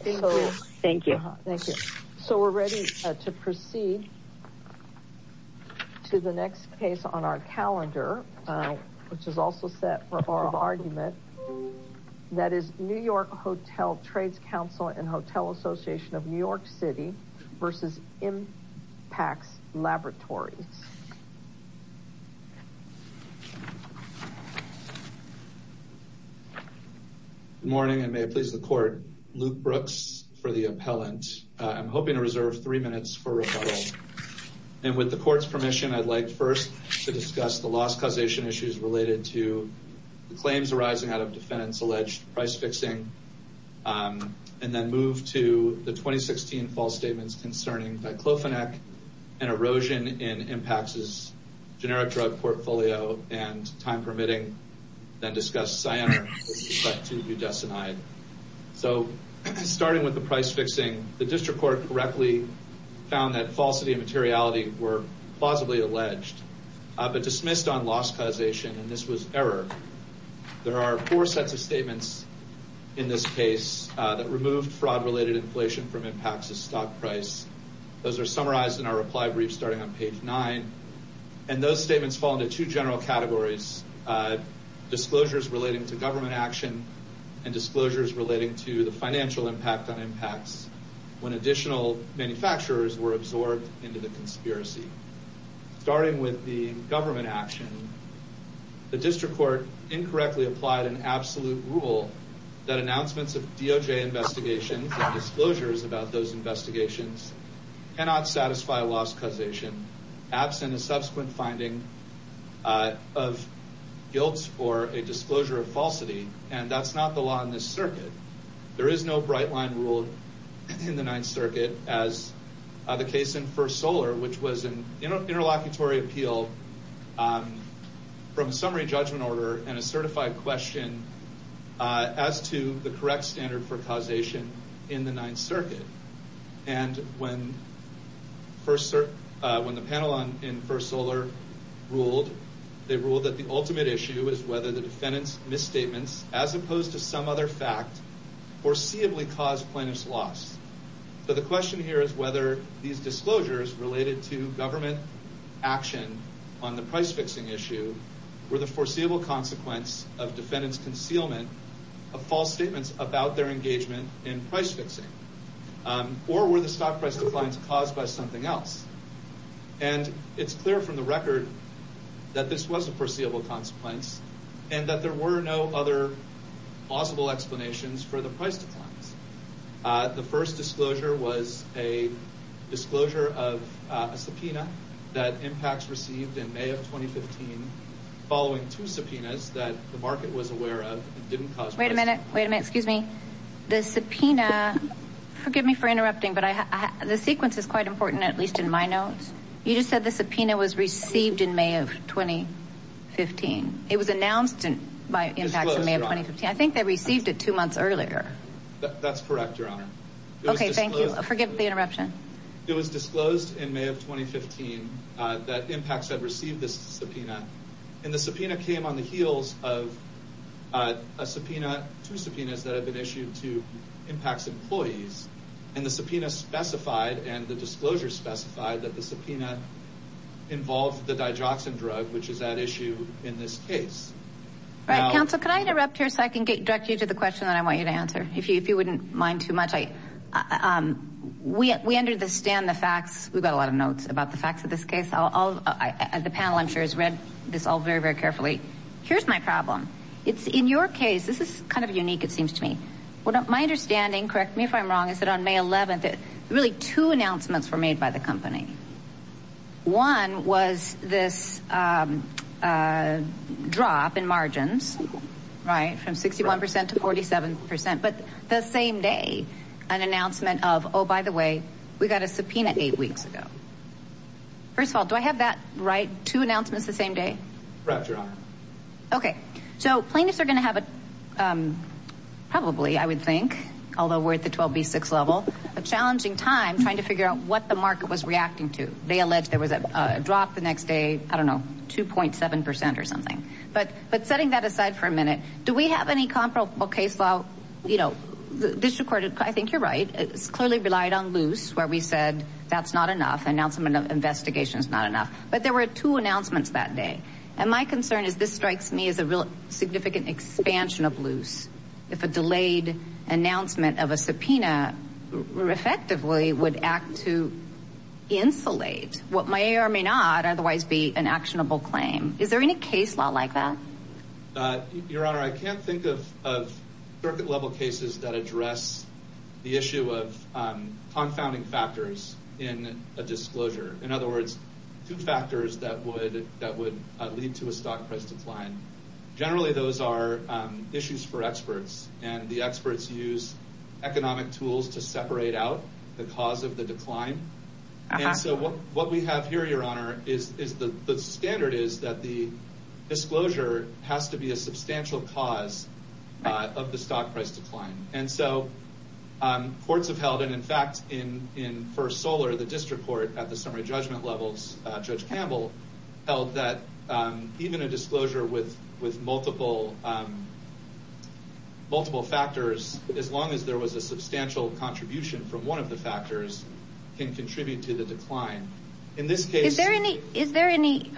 Thank you. Thank you. So we're ready to proceed to the next case on our calendar, which is also set for oral argument. That is New York Hotel Trades Council and Hotel Association of New York City v. Impax Laboratories. Good morning, and may it please the Court. Luke Brooks for the appellant. I'm hoping to reserve three minutes for rebuttal, and with the Court's permission, I'd like first to discuss the loss causation issues related to the claims arising out of defendants' alleged price fixing, and then the 2016 false statements concerning diclofenac and erosion in Impax's generic drug portfolio and time-permitting then-discussed cyanide to euthesinide. So starting with the price fixing, the District Court correctly found that falsity and materiality were plausibly alleged, but dismissed on loss causation, and this was error. There are four sets of statements in this case that removed fraud-related inflation from Impax's stock price. Those are summarized in our reply brief starting on page 9, and those statements fall into two general categories, disclosures relating to government action and disclosures relating to the financial impact on Impax when additional manufacturers were absorbed into the conspiracy. Starting with the government action, the District Court incorrectly applied an absolute rule that announcements of DOJ investigations and disclosures about those investigations cannot satisfy loss causation absent a subsequent finding of guilt or a disclosure of falsity, and that's not the law in this circuit. There is no bright line rule in the Ninth Circuit as the case in First Solar, which was an interlocutory appeal from a summary judgment order and a certified question as to the correct standard for causation in the Ninth Circuit, and when the panel in First Solar ruled, they ruled that the ultimate issue is whether the defendant's misstatements, as opposed to some other fact, foreseeably caused plaintiff's loss. So the question here is whether these disclosures related to government action on the price fixing issue were the foreseeable consequence of defendant's concealment of false statements about their engagement in price fixing, or were the stock price declines caused by something else, and it's clear from the record that this was a foreseeable consequence and that there were no other possible explanations for the disclosure of a subpoena that Impacts received in May of 2015 following two subpoenas that the market was aware of. Wait a minute, wait a minute, excuse me. The subpoena, forgive me for interrupting, but the sequence is quite important, at least in my notes. You just said the subpoena was received in May of 2015. It was announced by Impacts in May of 2015. I think they received it two months earlier. That's correct, Your Honor. Okay, thank you. Forgive the interruption. It was disclosed in May of 2015 that Impacts had received this subpoena, and the subpoena came on the heels of a subpoena, two subpoenas that had been issued to Impacts employees, and the subpoena specified, and the disclosure specified, that the subpoena involved the digoxin drug, which is at issue in this case. Right, counsel, can I interrupt here so I can get directly to the question that I want you to answer, if you wouldn't mind too much. We understand the facts. We've got a lot of notes about the facts of this case. The panel, I'm sure, has read this all very, very carefully. Here's my problem. It's in your case. This is kind of unique, it seems to me. My understanding, correct me if I'm wrong, is that on May 11th, really two announcements were made by the company. One was this drop in margins, right, from 61% to 47%, but the same day, an announcement of, oh, by the way, we got a subpoena eight weeks ago. First of all, do I have that right, two announcements the same day? Right, your honor. Okay, so plaintiffs are going to have a, probably, I would think, although we're at the 12B6 level, a challenging time trying to figure out what the market was reacting to. They alleged there was a drop the next day, I don't know, 2.7% or something, but setting that aside for a minute, do we have any comparable case file? You know, the district court, I think you're right. It's clearly relied on loose, where we said that's not enough, announcement of investigation is not enough, but there were two announcements that day, and my concern is this strikes me as a real significant expansion of loose. If a delayed announcement of a subpoena, effectively, would act to insulate what may or may not otherwise be an actionable claim. Is there any case law like that? Your honor, I can't think of circuit level cases that address the issue of confounding factors in a disclosure. In other words, two factors that would lead to a stock price decline. Generally, those are issues for experts, and the experts use economic tools to separate out the cause of the decline, and so what we have here, your honor, is the standard is that the disclosure has to be a substantial cause of the stock price decline, and so courts have held, and in fact, in First Solar, the district court at the summary judgment levels, Judge Campbell, held that even a disclosure with multiple factors, as long as there was a substantial contribution from one of the factors, can contribute to the decline. In this case- Is there any,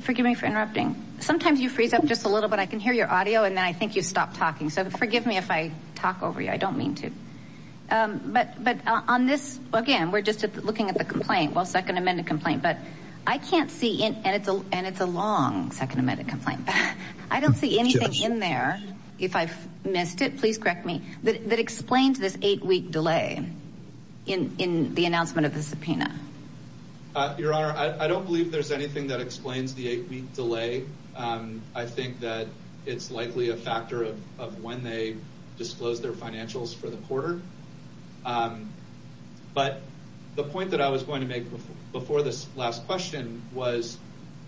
forgive me for interrupting, sometimes you freeze up just a little bit, I can hear your audio, and then I think you stopped talking, so forgive me if I talk over you, I don't mean to, but on this, again, we're just looking at the complaint, well, second amended complaint, but I can't see, and it's a long second amended complaint, I don't see anything in there, if I've missed it, please correct me, that explains this eight-week delay in the announcement of the subpoena. Your honor, I don't believe there's anything that explains the eight-week delay. I think that it's likely a factor of when they disclose their before this last question was,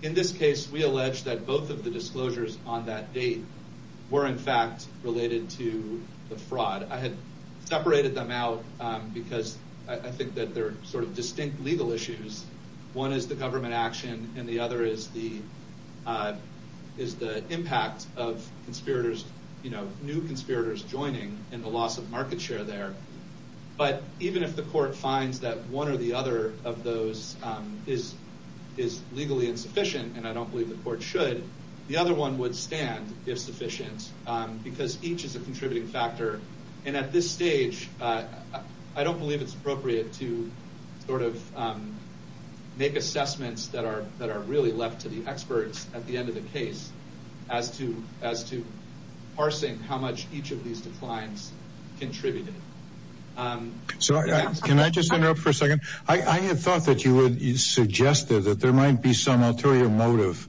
in this case, we allege that both of the disclosures on that date were, in fact, related to the fraud. I had separated them out because I think that they're sort of distinct legal issues. One is the government action, and the other is the impact of conspirators, new conspirators joining, and the loss of market share there. But even if the court finds that one or the other of those is legally insufficient, and I don't believe the court should, the other one would stand if sufficient, because each is a contributing factor, and at this stage, I don't believe it's appropriate to sort of make assessments that are really left to the experts at the end of the case as to parsing how much each of these declines contributed. Can I just interrupt for a second? I had thought that you would suggest that there might be some ulterior motive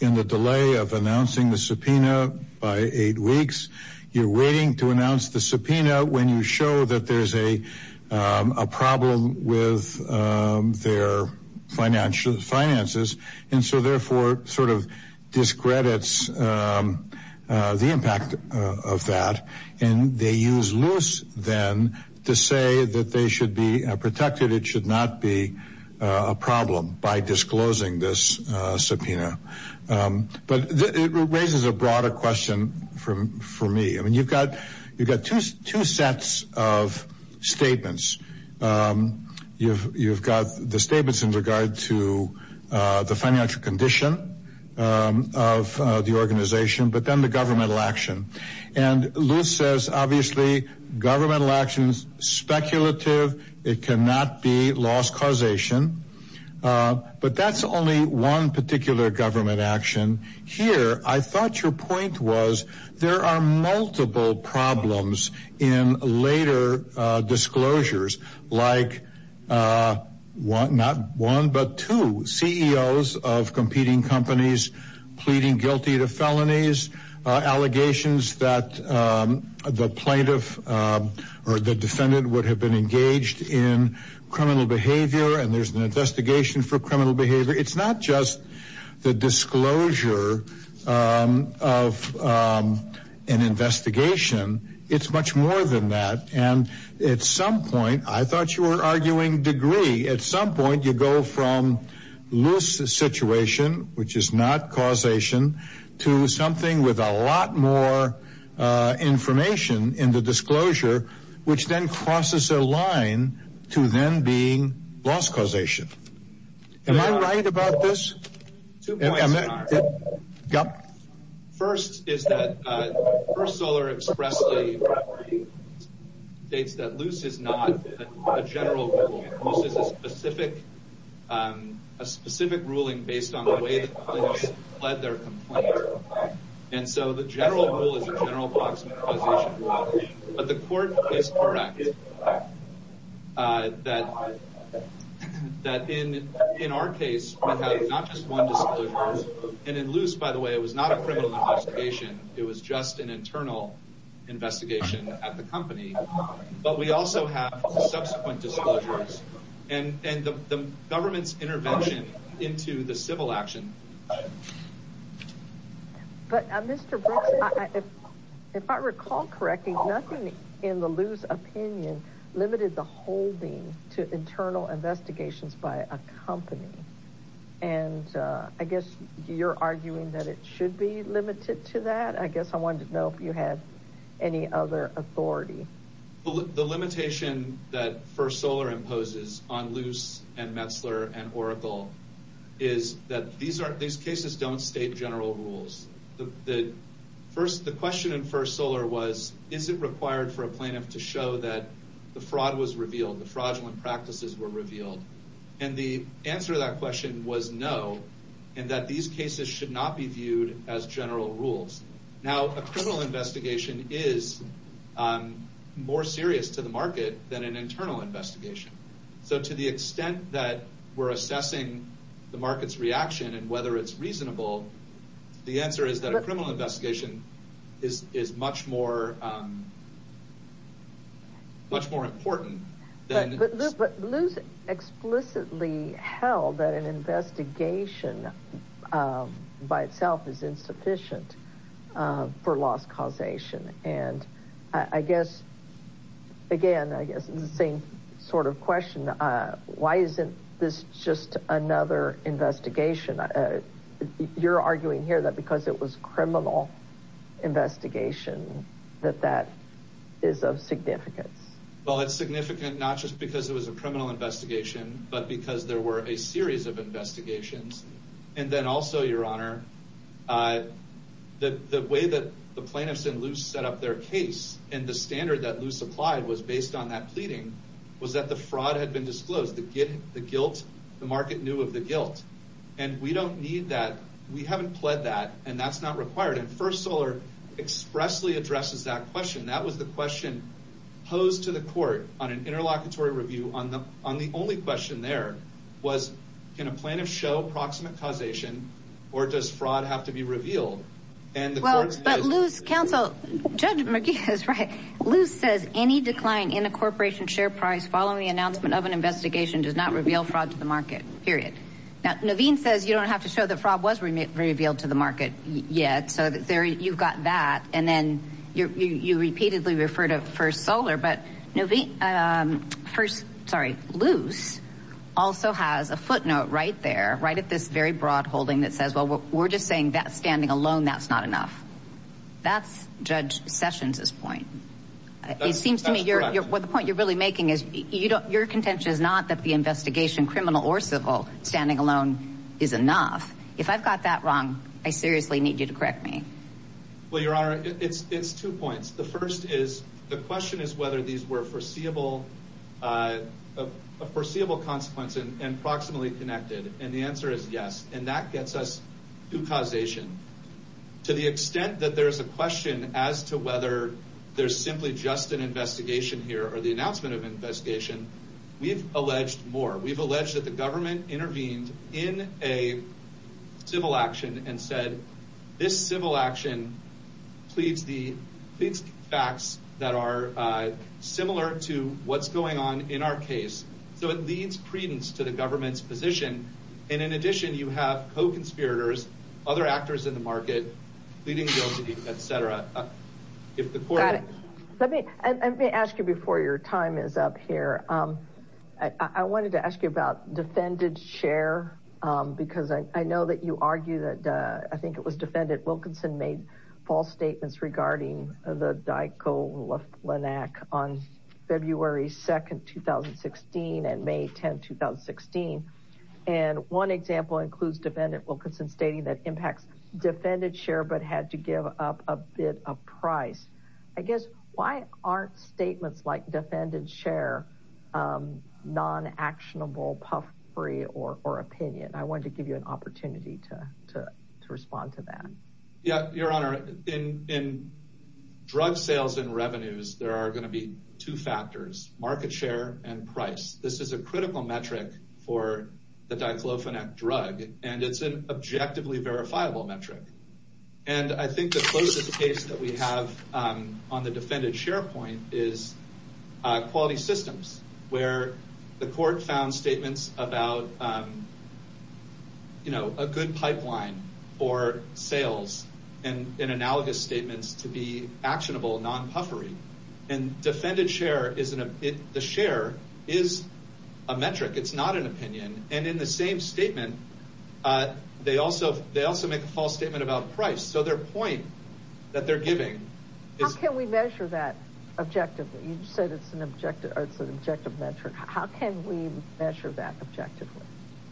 in the delay of announcing the subpoena by eight weeks. You're waiting to announce the subpoena when you show that there's a problem with their finances, and so therefore sort of discredits the impact of that, and they use loose, then, to say that they should be protected. It should not be a problem by disclosing this subpoena. But it raises a broader question for me. I mean, you've got two sets of statements. You've got the statements in regard to the financial condition of the organization, but then the governmental action. And Luce says, obviously, governmental action is speculative. It cannot be loss causation. But that's only one particular government action. Here, I thought your point was there are multiple problems in later disclosures, like not one, but two CEOs of competing companies pleading guilty to felonies, allegations that the plaintiff or the defendant would have been engaged in criminal behavior, and there's an investigation for criminal behavior. It's not just the disclosure of an investigation. It's much more than that. And at some point, I thought you were arguing degree. At some point, you go from loose situation, which is not causation, to something with a lot more information in the Am I right about this? First is that First Solar expressly states that Luce is not a general rule. Luce is a specific ruling based on the way the plaintiff led their complaint. And so the general rule is a general approximation. But the court is correct that in our case, we have not just one disclosure. And in Luce, by the way, it was not a criminal investigation. It was just an internal investigation at the company. But we also have subsequent disclosures and the government's intervention into the civil action. But Mr. Brooks, if I recall correctly, nothing in the Luce opinion limited the holding to internal investigations by a company. And I guess you're arguing that it should be limited to that. I guess I wanted to know if you had any other authority. The limitation that First Solar imposes on Luce and Metzler and Oracle is that these cases don't state general rules. The question in First Solar was, is it required for a plaintiff to show that the fraud was revealed, the fraudulent practices were revealed? And the answer to that question was no, and that these cases should not be viewed as general rules. Now, a criminal investigation is more serious to the market than an internal investigation. So to the extent that we're assessing the market's reaction and whether it's reasonable, the answer is that a criminal investigation is much more important. But Luce explicitly held that an investigation by itself is insufficient for loss causation. And I guess, again, I guess it's the same sort of question. Why isn't this just another investigation? You're arguing here that because it was a criminal investigation, that that is of significance. Well, it's significant not just because it was a criminal investigation, but because there were a series of investigations. And then also, Your Honor, the way that the plaintiffs and Luce set up their case and the standard that Luce applied was based on that pleading was that the fraud had been disclosed. The market knew of the guilt. And we don't need that. We haven't pled that, and that's not required. And First Solar expressly addresses that question. That was the question posed to the court on an interlocutory review on the only question there was, can a plaintiff show proximate causation or does fraud have to be revealed? And the court says. But Luce counsel, Judge McGee is right. Luce says any decline in a corporation share price following the announcement of an investigation does not reveal fraud to the market, period. Now, Naveen says you don't have to show that fraud was revealed to the market yet. So there you've got that. And then you repeatedly refer to First Solar. But Naveen first. Sorry, Luce also has a footnote right there, right at this very broad holding that says, well, we're just saying that standing alone, that's not enough. That's Judge Sessions is point. It seems to me you're what the point you're really making is you don't. Your contention is not that the investigation, criminal or civil standing alone is enough. If I've got that wrong, I seriously need you to correct me. Well, Your Honor, it's two points. The first is the question is whether these were foreseeable, a foreseeable consequence and approximately connected. And the answer is yes. And that gets us to causation to the extent that there is a question as to whether there's simply just an investigation here or the announcement of investigation. We've alleged more. We've alleged that the government intervened in a civil action and said this civil action pleads the facts that are similar to what's going on in our case. So it leads credence to the government's position. And in addition, you have co-conspirators, other actors in the market, pleading guilty, etc. If the court. Let me ask you before your time is up here. I wanted to ask you about defendant's share, because I know that you argue that I think it was Defendant Wilkinson made false statements regarding the Daiko-Laflinac on February 2nd, 2016 and May 10th, 2016. And one example includes Defendant Wilkinson stating that impacts defendant's share but had to give up a bit of price. I guess why aren't statements like defendant's share non-actionable, puffery or opinion? I wanted to give you an opportunity to respond to that. Yeah, Your Honor, in drug sales and revenues, there are going to be two factors, market share and price. This is a critical metric for the Daiko-Laflinac drug, and it's an objectively verifiable metric. And I think the closest case that we have on the defendant's point is Quality Systems, where the court found statements about a good pipeline for sales and analogous statements to be actionable, non-puffery. And defendant's share is a metric. It's not an opinion. And in the same statement, they also make a false statement about price. So their point that they're giving is... How can we measure that objectively? You said it's an objective, or it's an objective metric. How can we measure that objectively?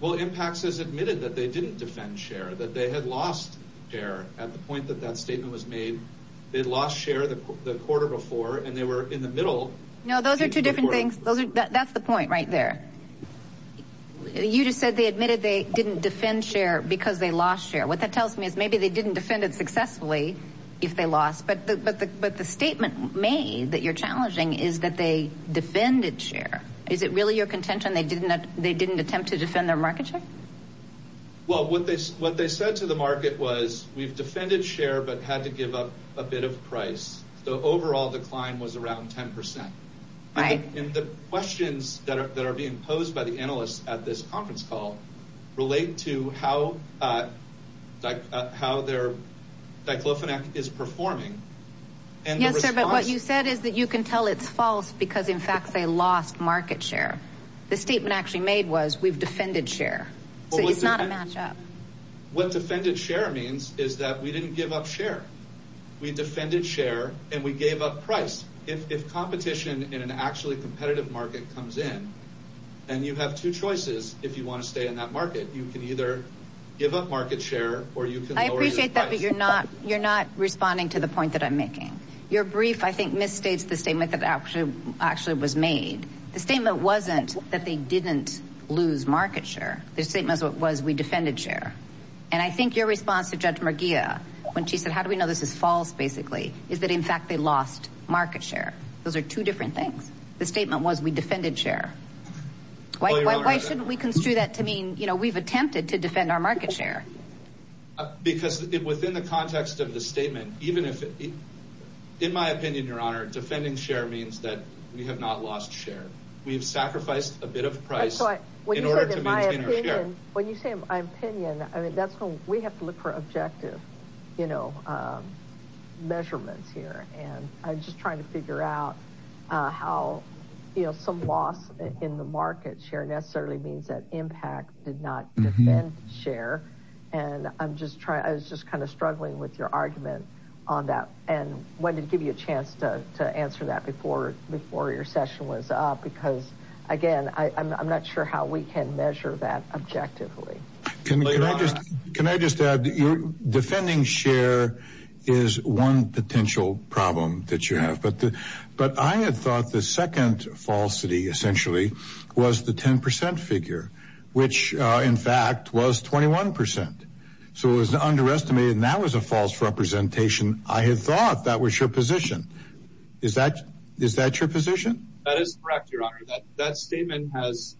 Well, impacts has admitted that they didn't defend share, that they had lost share at the point that that statement was made. They'd lost share the quarter before, and they were in the middle. No, those are two different things. That's the point right there. You just said they admitted they didn't defend share because they lost share. What that tells me is maybe they didn't defend it successfully if they lost, but the statement made that you're challenging is that they defended share. Is it really your contention they didn't attempt to defend their market share? Well, what they said to the market was, we've defended share but had to give up a bit of price. The overall decline was around 10%. And the questions that are being posed by the analysts at this conference call relate to how their Diclofenac is performing. Yes, sir, but what you said is that you can tell it's false because in fact they lost market share. The statement actually made was we've defended share. So it's not a match-up. What defended share means is that we didn't give up share. We defended share and we gave up price. If competition in an actually competitive market comes in, and you have two choices if you want to stay in that market, you can either give up market share or you can lower your price. I appreciate that, but you're not responding to the point that I'm making. Your brief, I think, misstates the statement that actually was made. The statement wasn't that they didn't lose market share. The statement was we defended share. And I think your response to Judge Merguia when she said, how do we know this is false, basically, is that in fact they lost market share. Those are two different things. The statement was we defended share. Why shouldn't we construe that to mean we've attempted to defend our market share? Because within the context of the statement, even if it, in my opinion, your honor, defending share means that we have not lost share. We've sacrificed a bit of price in order to maintain our share. When you say my opinion, I mean, that's when we have to look for objective measurements here. And I'm just trying to figure out how some loss in the market share necessarily means that IMPACT did not defend share. And I'm just trying, I was just kind of struggling with your argument on that and wanted to give you a chance to answer that before your session was up. Because again, I'm not sure how we can measure that objectively. Can I just add, defending share is one potential problem that you have. But I had thought the second falsity essentially was the 10% figure, which in fact was 21%. So it was underestimated. And that was a false representation. I had thought that was your position. Is that your position? That is correct, your honor. That statement has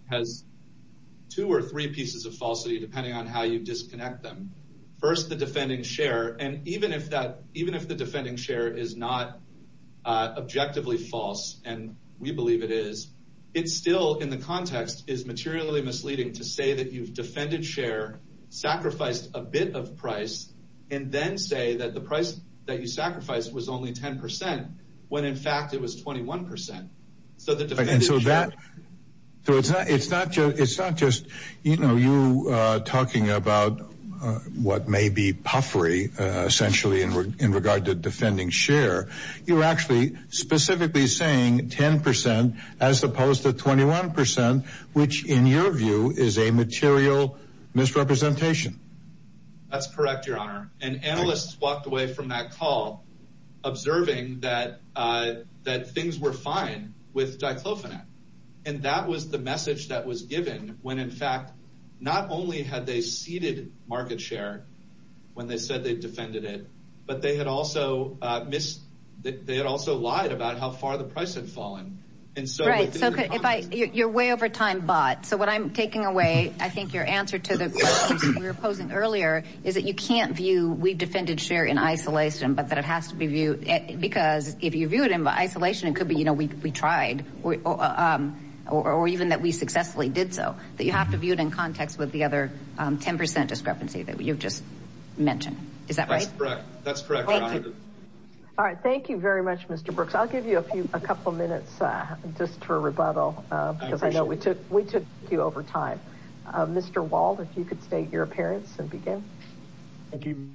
two or three pieces of falsity, depending on how you disconnect them. First, the defending share. And even if that, is not objectively false, and we believe it is, it's still in the context is materially misleading to say that you've defended share, sacrificed a bit of price, and then say that the price that you sacrificed was only 10%, when in fact, it was 21%. So that it's not just, it's not just, you know, you talking about what may be puffery, essentially, in regard to defending share, you're actually specifically saying 10%, as opposed to 21%, which, in your view, is a material misrepresentation. That's correct, your honor. And analysts walked away from that call, observing that, that things were fine with Diclofenac. And that was the message that was not only had they seeded market share, when they said they defended it, but they had also missed that they had also lied about how far the price had fallen. And so, right, so if I you're way over time, but so what I'm taking away, I think your answer to the question we were posing earlier is that you can't view we defended share in isolation, but that it has to be viewed. Because if you view it in isolation, it could be, you know, we tried, or, or even that we the other 10% discrepancy that you've just mentioned. Is that right? That's correct. All right. Thank you very much, Mr. Brooks. I'll give you a few, a couple of minutes, just for rebuttal, because I know we took, we took you over time. Mr. Wald, if you could state your appearance and begin. Thank you.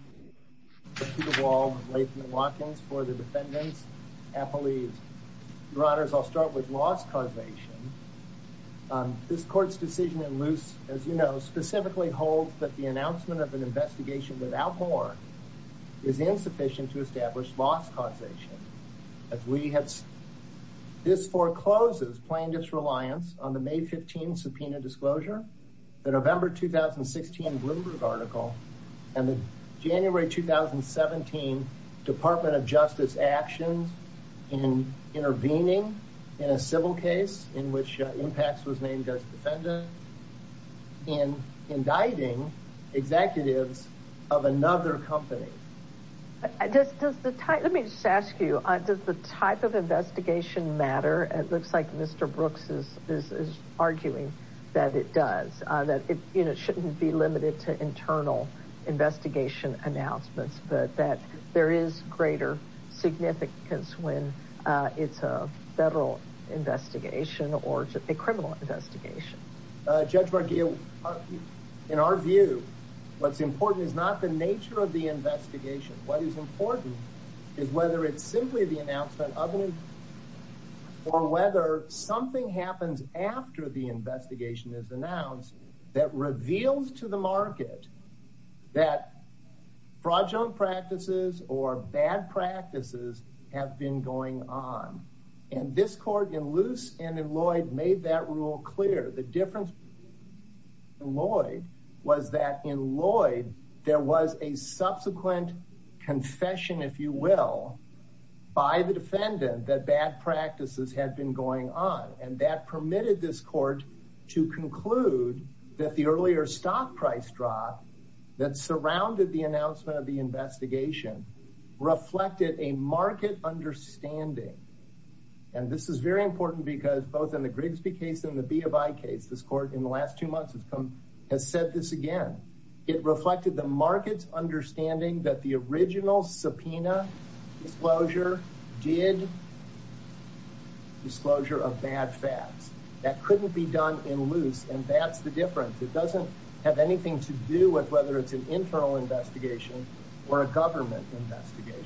Thank you all for the defendants, appellees. Your honors, I'll start with loss causation. This court's decision in loose, as you know, specifically holds that the announcement of an investigation without more is insufficient to establish loss causation. As we have, this forecloses plaintiff's reliance on the May 15 subpoena disclosure, the November 2016 Bloomberg article, and the January 2017 department of justice actions in intervening in a civil case in which impacts was named just defendant and indicting executives of another company. I just, does the type, let me just ask you, does the type of investigation matter? It looks like Mr. Brooks is, is, is arguing that it does, that it shouldn't be limited to internal investigation announcements, but that there is greater significance when it's a federal investigation or a criminal investigation. Judge Barghia, in our view, what's important is not the nature of the investigation. What is important is whether it's simply the announcement of an, or whether something happens after the or bad practices have been going on. And this court in loose and in Lloyd made that rule clear. The difference in Lloyd was that in Lloyd, there was a subsequent confession, if you will, by the defendant that bad practices had been going on. And that permitted this court to conclude that the earlier stock price drop that surrounded the announcement of the investigation reflected a market understanding. And this is very important because both in the Grigsby case and the B of I case, this court in the last two months has come, has said this again. It reflected the market's understanding that the original subpoena disclosure did not reflect the disclosure of bad facts that couldn't be done in loose. And that's the difference. It doesn't have anything to do with whether it's an internal investigation or a government investigation.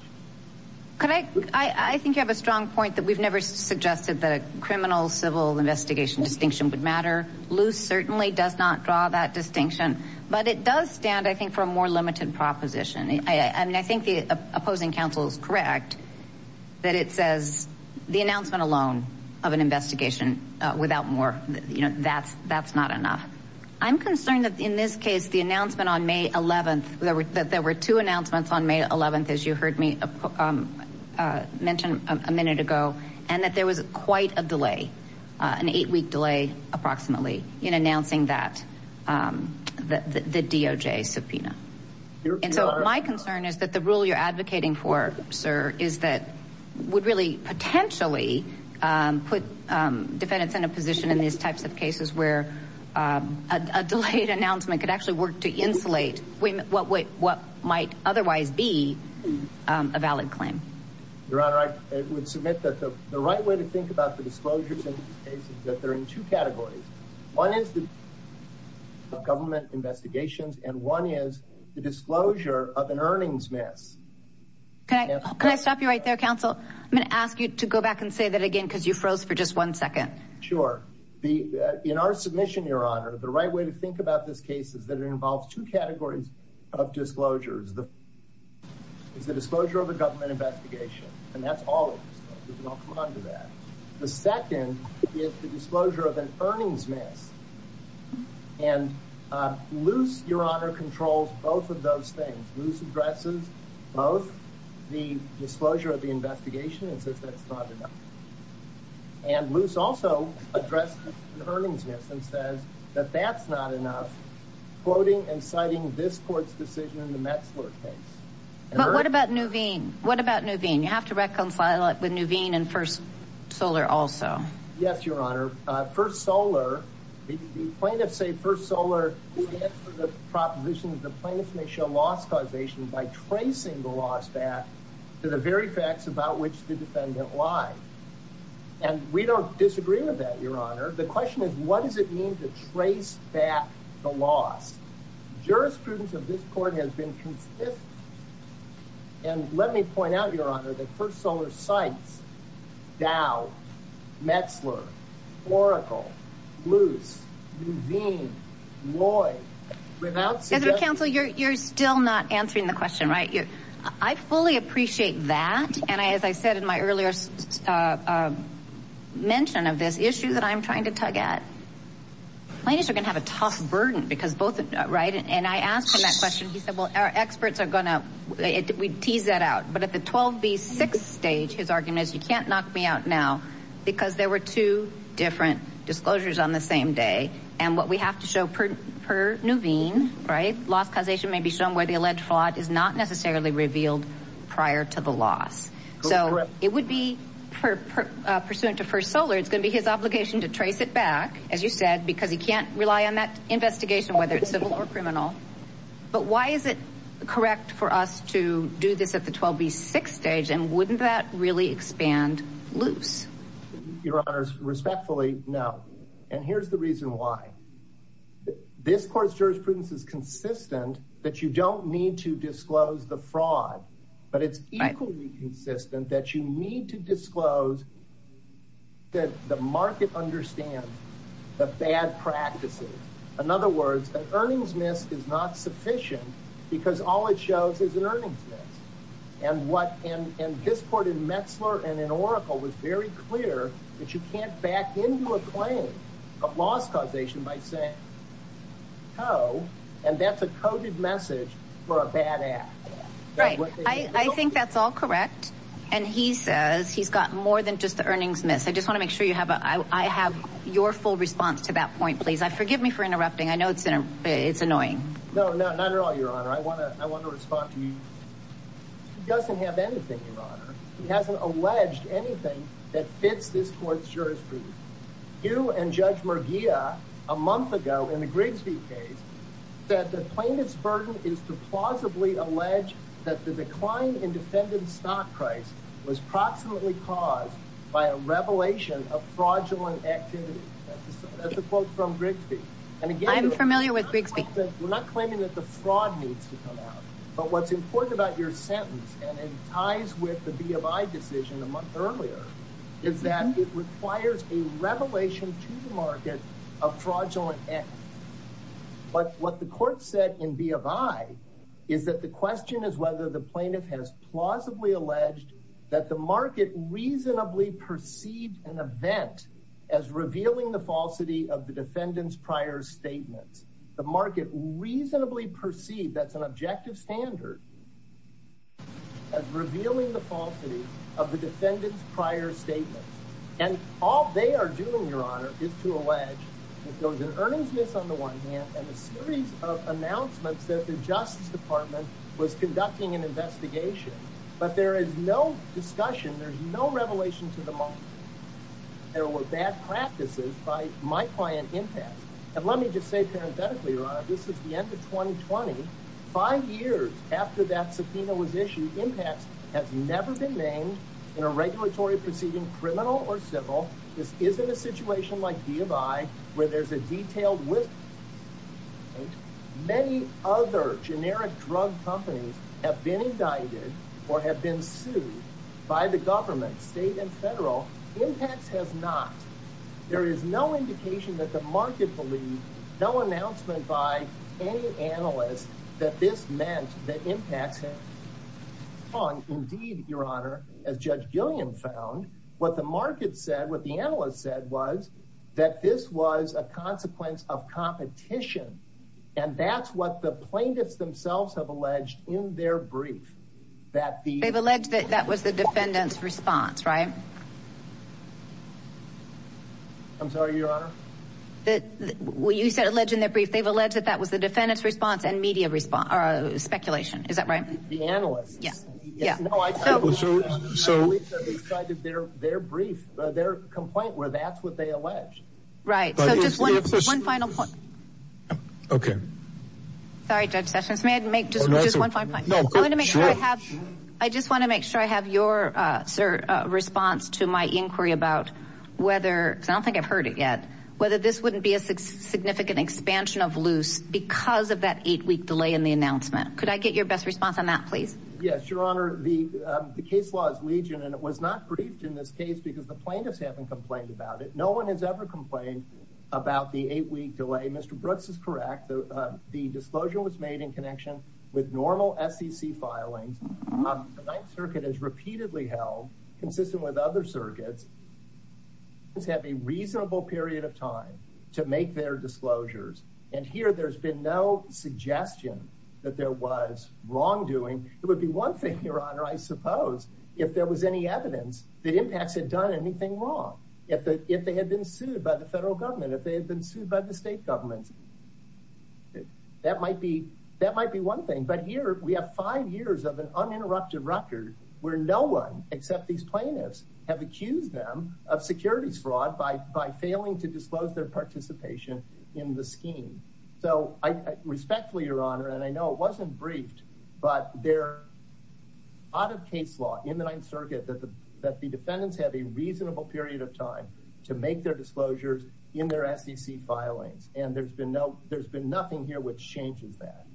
Can I, I think you have a strong point that we've never suggested that a criminal civil investigation distinction would matter. Loose certainly does not draw that distinction, but it does stand, I think, for a more limited proposition. I mean, I think the opposing counsel is correct that it says the announcement alone of an investigation without more, you know, that's, that's not enough. I'm concerned that in this case, the announcement on May 11th, there were two announcements on May 11th, as you heard me mention a minute ago, and that there was quite a delay, an eight week delay, approximately in announcing that, um, the, the, the DOJ subpoena. And so my concern is that the rule you're advocating for, sir, is that would really potentially, um, put, um, defendants in a position in these types of cases where, um, a delayed announcement could actually work to insulate women, what, what might otherwise be, um, a valid claim. Your honor, I would submit that the right way to think about the disclosures in this case is that they're in two categories. One is the government investigations, and one is the disclosure of an earnings mess. Can I, can I stop you right there, counsel? I'm going to ask you to go back and say that again, because you froze for just one second. Sure. The, uh, in our submission, your honor, the right way to think about this case is that it involves two categories of disclosures. The disclosure of a government investigation, and that's all of it. We can all come on to that. The second is the disclosure of an earnings mess. And, uh, Luce, your honor controls both of those things. Luce addresses both the disclosure of the investigation and says that's not enough. And Luce also addressed the earnings mess and says that that's not enough quoting and citing this court's decision in the Metzler case. But what about Nuveen? What about Nuveen? You have to reconcile it with Nuveen and First Solar also. Yes, your honor. Uh, First Solar, the plaintiffs say First Solar is the proposition that the plaintiffs may show loss causation by tracing the loss back to the very facts about which the defendant lied. And we don't disagree with that, your honor. The question is, what does it mean to trace back the loss? Jurisprudence of this court has been consistent. And let me point out, your honor, that First Solar cites Dow, Metzler, Oracle, Luce, Nuveen, Lloyd, without suggestion. Council, you're, you're still not answering the question, right? I fully appreciate that. And I, as I said in my earlier, uh, uh, mention of this issue that I'm trying to tug at, plaintiffs are going to have a tough burden because both, right? And I asked him that question. He said, well, our experts are going to, we tease that out. But at the 12B6 stage, his argument is you can't knock me out now because there were two different disclosures on the same day. And what we have to show per, per Nuveen, right? Loss causation may be shown where the alleged fraud is not necessarily revealed prior to the loss. So it would be pursuant to First Solar. It's going to be his obligation to trace it back, as you said, because he can't rely on that investigation, whether it's civil or criminal. But why is it correct for us to do this at the 12B6 stage? And wouldn't that really expand Luce? Your honors respectfully? No. And here's the reason why this court's jurisprudence is consistent that you don't need to disclose the fraud, but it's equally consistent that you need to disclose that the market understands the bad practices. In other words, an earnings miss is not sufficient because all it shows is an earnings miss. And what, and, and this court in Metzler and in Oracle was very clear that you can't back into a claim of loss causation by saying oh, and that's a coded message for a bad act. Right. I think that's all correct. And he says he's gotten more than just the earnings miss. I just want to make sure you have a, I have your full response to that point, please. I forgive me for interrupting. I know it's in a, it's annoying. No, no, not at all. Your honor. I want to, I want to respond to you. He doesn't have anything, your honor. He hasn't alleged anything that fits this court's in the Grigsby case that the plaintiff's burden is to plausibly allege that the decline in defendant's stock price was proximately caused by a revelation of fraudulent activity. That's a quote from Grigsby. I'm familiar with Grigsby. We're not claiming that the fraud needs to come out, but what's important about your sentence and it ties with the B of I decision a month earlier is that it requires a revelation to the market of fraudulent activity. But what the court said in B of I is that the question is whether the plaintiff has plausibly alleged that the market reasonably perceived an event as revealing the falsity of the defendant's prior statements. The market reasonably perceived that's an objective standard as revealing the falsity of the defendant's prior statements. And all they are doing, your honor, is to allege that there was an earnestness on the one hand and a series of announcements that the justice department was conducting an investigation, but there is no discussion. There's no revelation to the market. There were bad practices by my client impact. And let me just say parenthetically, your honor, this is the end of 2020. Five years after that subpoena was issued, impacts has never been named in a regulatory proceeding, criminal or civil. This isn't a situation like B of I where there's a detailed Many other generic drug companies have been indicted or have been sued by the government, state and federal. Impacts has not. There is no indication that the market believe no announcement by any analyst that this meant that impacts it. Indeed, your honor, as Judge Gilliam found, what the market said, what the analyst said was that this was a consequence of competition. And that's what the plaintiffs themselves have alleged in their brief that they've alleged that that was the defendant's response, right? I'm sorry, your honor. That what you said alleged in their brief, they've alleged that that was the defendant's response and media response. Speculation. Is that right? The analyst? Yeah. Yeah. No, I don't. So their brief, their complaint where that's what they allege. Right. So just one final point. Okay. Sorry, Judge Sessions. May I make just one final point? I just want to make sure I have your response to my inquiry about whether I don't think I've heard it yet, whether this wouldn't be a significant expansion of loose because of that eight week delay in the announcement. Could I get your best response on that, please? Yes, your honor. The case was Legion, and it was not briefed in this case because the plaintiffs haven't complained about it. No one has ever complained about the eight week delay. Mr. Brooks is correct. The disclosure was made in connection with normal SEC filings. The Ninth Circuit has repeatedly held consistent with other circuits. Let's have a reasonable period of time to make their disclosures. And here there's been no suggestion that there was wrongdoing. It would be one thing, your honor, suppose if there was any evidence that impacts had done anything wrong. If they had been sued by the federal government, if they had been sued by the state government, that might be one thing. But here we have five years of an uninterrupted record where no one except these plaintiffs have accused them of securities fraud by failing to disclose their participation in the scheme. So I respectfully, your honor, and I know it wasn't briefed, but there are a lot of case law in the Ninth Circuit that the defendants have a reasonable period of time to make their disclosures in their SEC filings. And there's been no, there's been nothing here which changes that.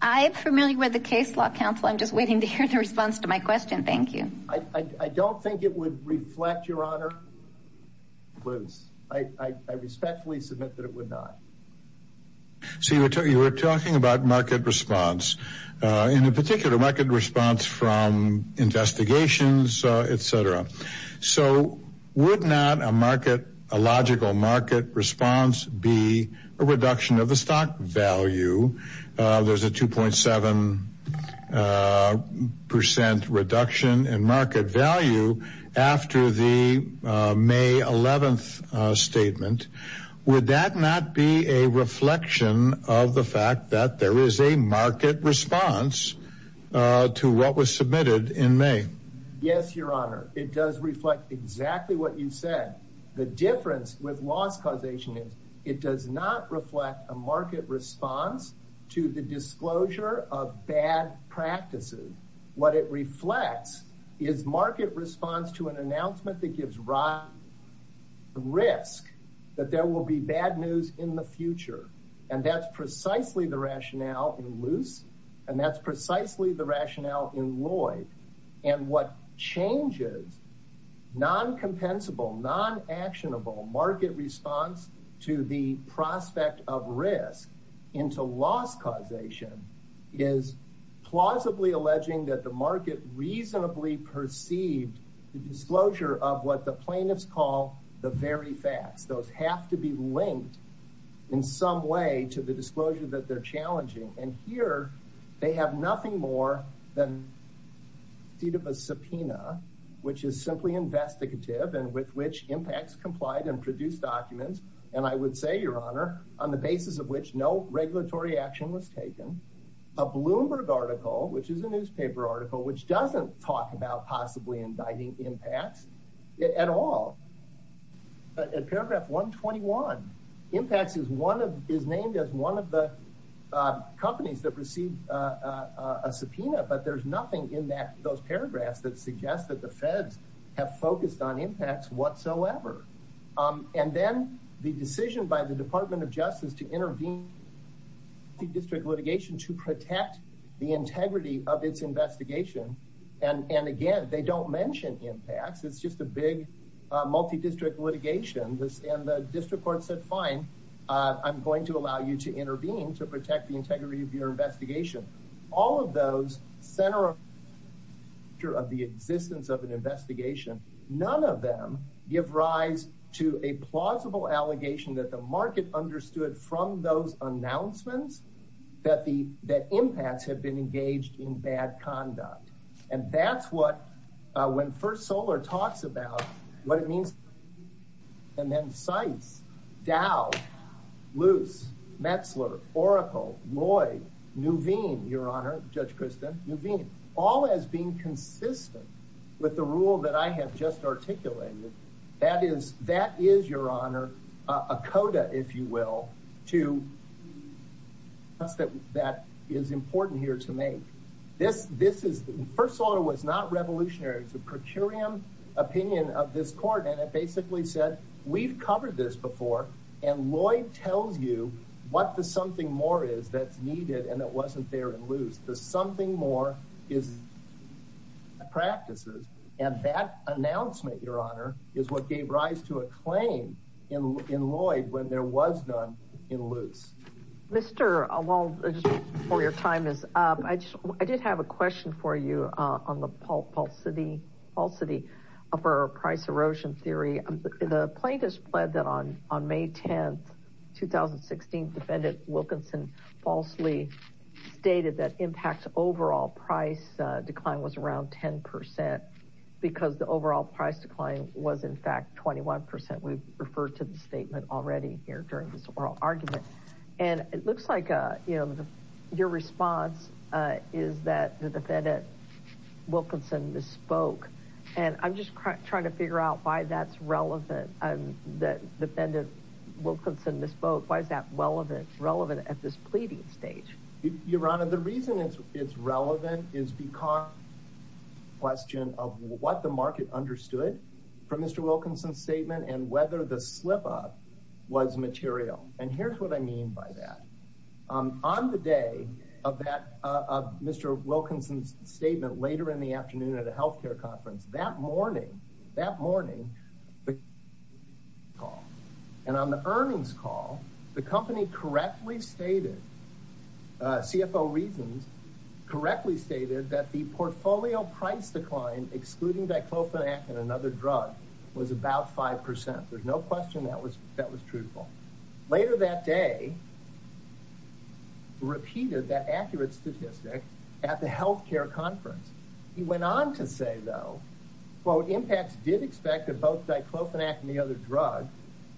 I am familiar with the case law counsel. I'm just waiting to hear the response to my question. Thank you. I don't think it would reflect your honor. I respectfully submit that it would not. So you were talking about market response in a particular market response from investigations, et cetera. So would not a market, a logical market response be a reduction of the stock value? There's a 2.7 percent reduction in market value after the May 11th statement. Would that not be a reflection of the fact that there is a market response to what was submitted in May? Yes, your honor. It does reflect exactly what you said. The difference with loss causation is it does not reflect a market response to the disclosure of bad practices. What it reflects is market response to an announcement that gives rise to risk that there will be bad news in the future. And that's precisely the rationale in Luce, and that's precisely the rationale in Lloyd. And what changes non-compensable, non-actionable market response to the prospect of risk into loss causation is plausibly alleging that the market reasonably perceived the disclosure of what the plaintiffs call the very facts. Those have to be linked in some way to the disclosure that they're challenging. And here they have nothing more than a deed of a subpoena, which is simply investigative and with which impacts complied and produced documents. And I would say, your honor, on the basis of which no regulatory action was taken, a Bloomberg article, which is a newspaper article, which doesn't talk about possibly indicting impacts at all. At paragraph 121, impacts is one of, is named as one of the companies that received a subpoena, but there's nothing in that, those paragraphs that suggest that the feds have focused on impacts whatsoever. And then the decision by the department of justice to intervene in district litigation to protect the integrity of its investigation. And again, they don't mention impacts. It's just a big multi-district litigation. And the district court said, fine, I'm going to allow you to intervene to protect the integrity of your investigation. All of those center of the existence of an investigation. None of them give rise to a plausible allegation that the market understood from those announcements that the, that impacts have been engaged in bad conduct. And that's what, when First Solar talks about what it means. And then sites Dow loose Metzler, Oracle, Lloyd, Nuveen, your honor, judge Kristen Nuveen, all as being consistent with the rule that I have just articulated. That is, that is your honor, a coda, if you will, to that, that is important here to make this, this is First Solar was not revolutionary. It's a per curiam opinion of this court. And it basically said, we've covered this before. And Lloyd tells you what the something more is that's needed. And that wasn't there in loose. The something more is practices. And that announcement your honor is what gave rise to a claim in Lloyd when there was none in loose. Mr. a wall for your time is up. I just, I did have a question for you on the Paul Paul city all city of our price erosion theory. The plaintiff's pled that on, on May 10th, 2016 defendant Wilkinson falsely stated that impact overall price decline was around 10% because the overall price decline was in fact, 21%. We've referred to the statement already here during this oral argument. And it looks like, you know, your response is that the defendant Wilkinson misspoke. And I'm just trying to figure out why that's relevant. That defendant Wilkinson misspoke. Why is that relevant, relevant at this pleading stage? Your honor, the reason it's, it's relevant is because question of what the market understood from Mr. Wilkinson statement and whether the slip-up was material. And here's what I mean by that. On the day of that, Mr. Wilkinson's statement later in the afternoon at a healthcare conference that morning, that morning, and on the earnings call, the company correctly stated CFO reasons correctly stated that the portfolio price decline, excluding Diclofenac and another drug was about 5%. There's no question. That was, that was truthful later that day, repeated that accurate statistic at the healthcare conference. He went on to say though, quote impacts did expect that both Diclofenac and the other drug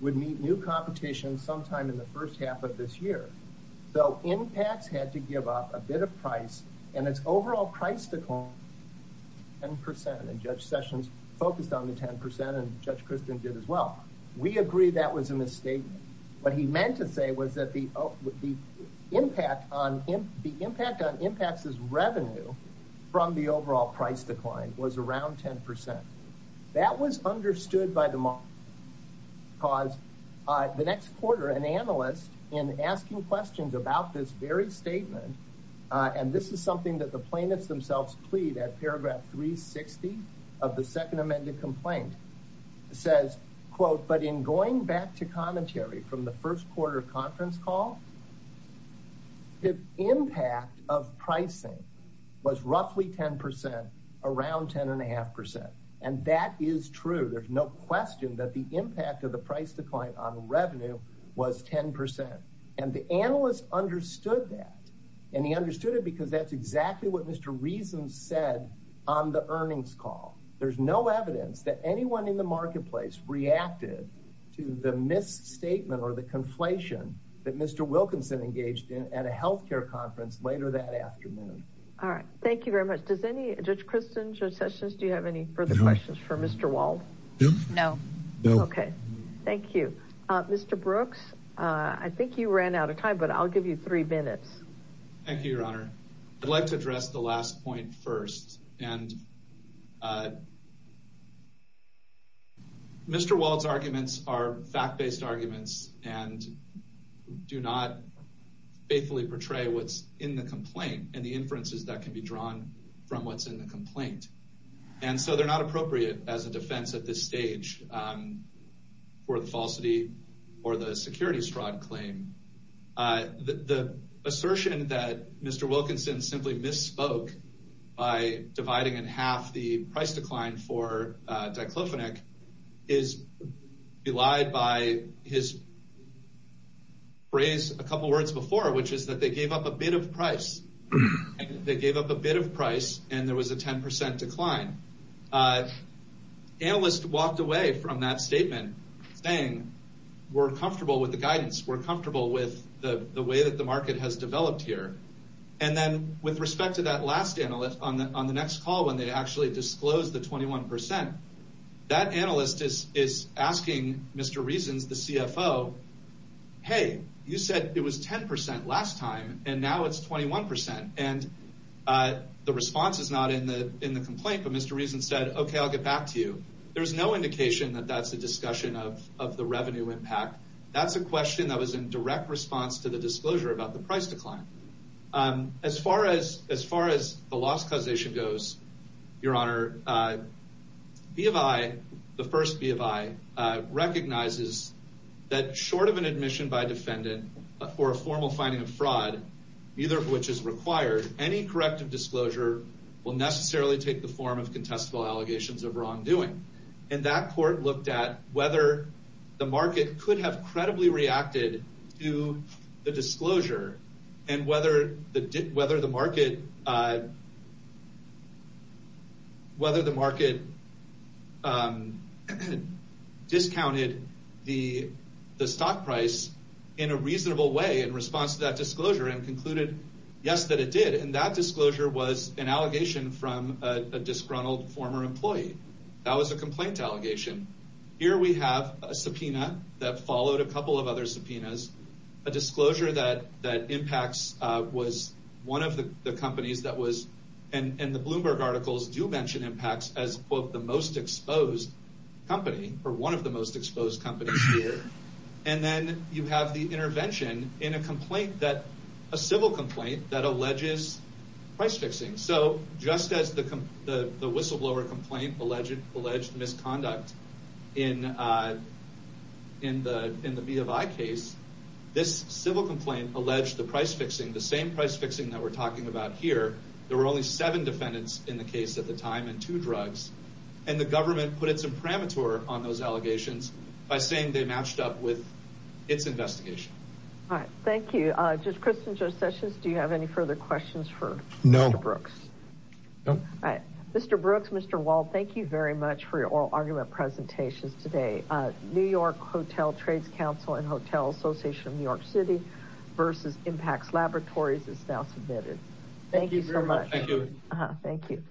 would meet new competition sometime in the first half of this year. So impacts had to give up a bit of price and its overall price decline 10% and Judge Sessions focused on the 10% and Judge Christian did as well. We agree that was a misstatement, but he meant to say was that the, the impact on him, the impact on impacts is revenue from the overall price decline was around 10%. That was understood by the market cause the next quarter, an analyst in asking questions about this very statement. And this is something that the plaintiffs themselves plead at paragraph three 60 of the second amended complaint says, quote, but in going back to commentary from the first quarter conference call, the impact of pricing was roughly 10% around 10 and a half percent. And that is true. There's no question that the impact of the price decline on revenue was 10%. And the analyst understood that and he understood it because that's exactly what Mr. Reason said on the earnings call. There's no evidence that anyone in the marketplace reacted to the misstatement or the conflation that Mr. Wilkinson engaged in at a healthcare conference later that Mr. Walt. No. No. Okay. Thank you, Mr. Brooks. I think you ran out of time, but I'll give you three minutes. Thank you, your honor. I'd like to address the last point first. And Mr. Walt's arguments are fact-based arguments and do not faithfully portray what's in the complaint and the inferences that can be drawn from what's in the complaint. And so they're not appropriate as a defense at this stage for the falsity or the security stride claim. The assertion that Mr. Wilkinson simply misspoke by dividing in half the price decline for Diclofenac is belied by his phrase a couple of words before, which is that they gave up price. They gave up a bit of price and there was a 10% decline. Analyst walked away from that statement saying, we're comfortable with the guidance. We're comfortable with the way that the market has developed here. And then with respect to that last analyst on the next call, when they actually disclosed the 21%, that analyst is asking Mr. Reasons, the CFO, hey, you said it was 10% last time and now it's 21%. And the response is not in the complaint, but Mr. Reason said, okay, I'll get back to you. There was no indication that that's a discussion of the revenue impact. That's a question that was in direct response to the disclosure about the price decline. As far as the loss causation goes, your honor, BFI, the first BFI recognizes that short of an admission by defendant for a formal finding of fraud, either of which is required, any corrective disclosure will necessarily take the form of contestable allegations of wrongdoing. And that court looked at whether the market could have credibly reacted to the disclosure and whether the market discounted the stock price in a reasonable way in response to that disclosure and concluded, yes, that it did. And that disclosure was an allegation from a disgruntled former employee. That was a complaint allegation. Here we have a subpoena that followed a couple of other subpoenas. A disclosure that impacts was one of the companies that was, and the Bloomberg articles do mention impacts as quote, the most exposed company or one of the most exposed companies here. And then you have the intervention in a complaint that, a civil complaint that alleges price fixing. So just as the whistleblower complaint alleged misconduct in the BFI case, this civil complaint alleged the price fixing, the same price fixing that we're talking about here. There were only seven defendants in the case at the time and two drugs. And the government put its imprimatur on those allegations by saying they matched up with its investigation. All right. Thank you. Judge Christin, Judge Sessions, do you have any further questions for Mr. Brooks? No. All right. Mr. Brooks, Mr. Wald, thank you very much for your oral argument presentations today. New York Hotel Trades Council and Hotel Association of New York City versus Impacts Laboratories is now submitted. Thank you so much. Thank you. Thank you.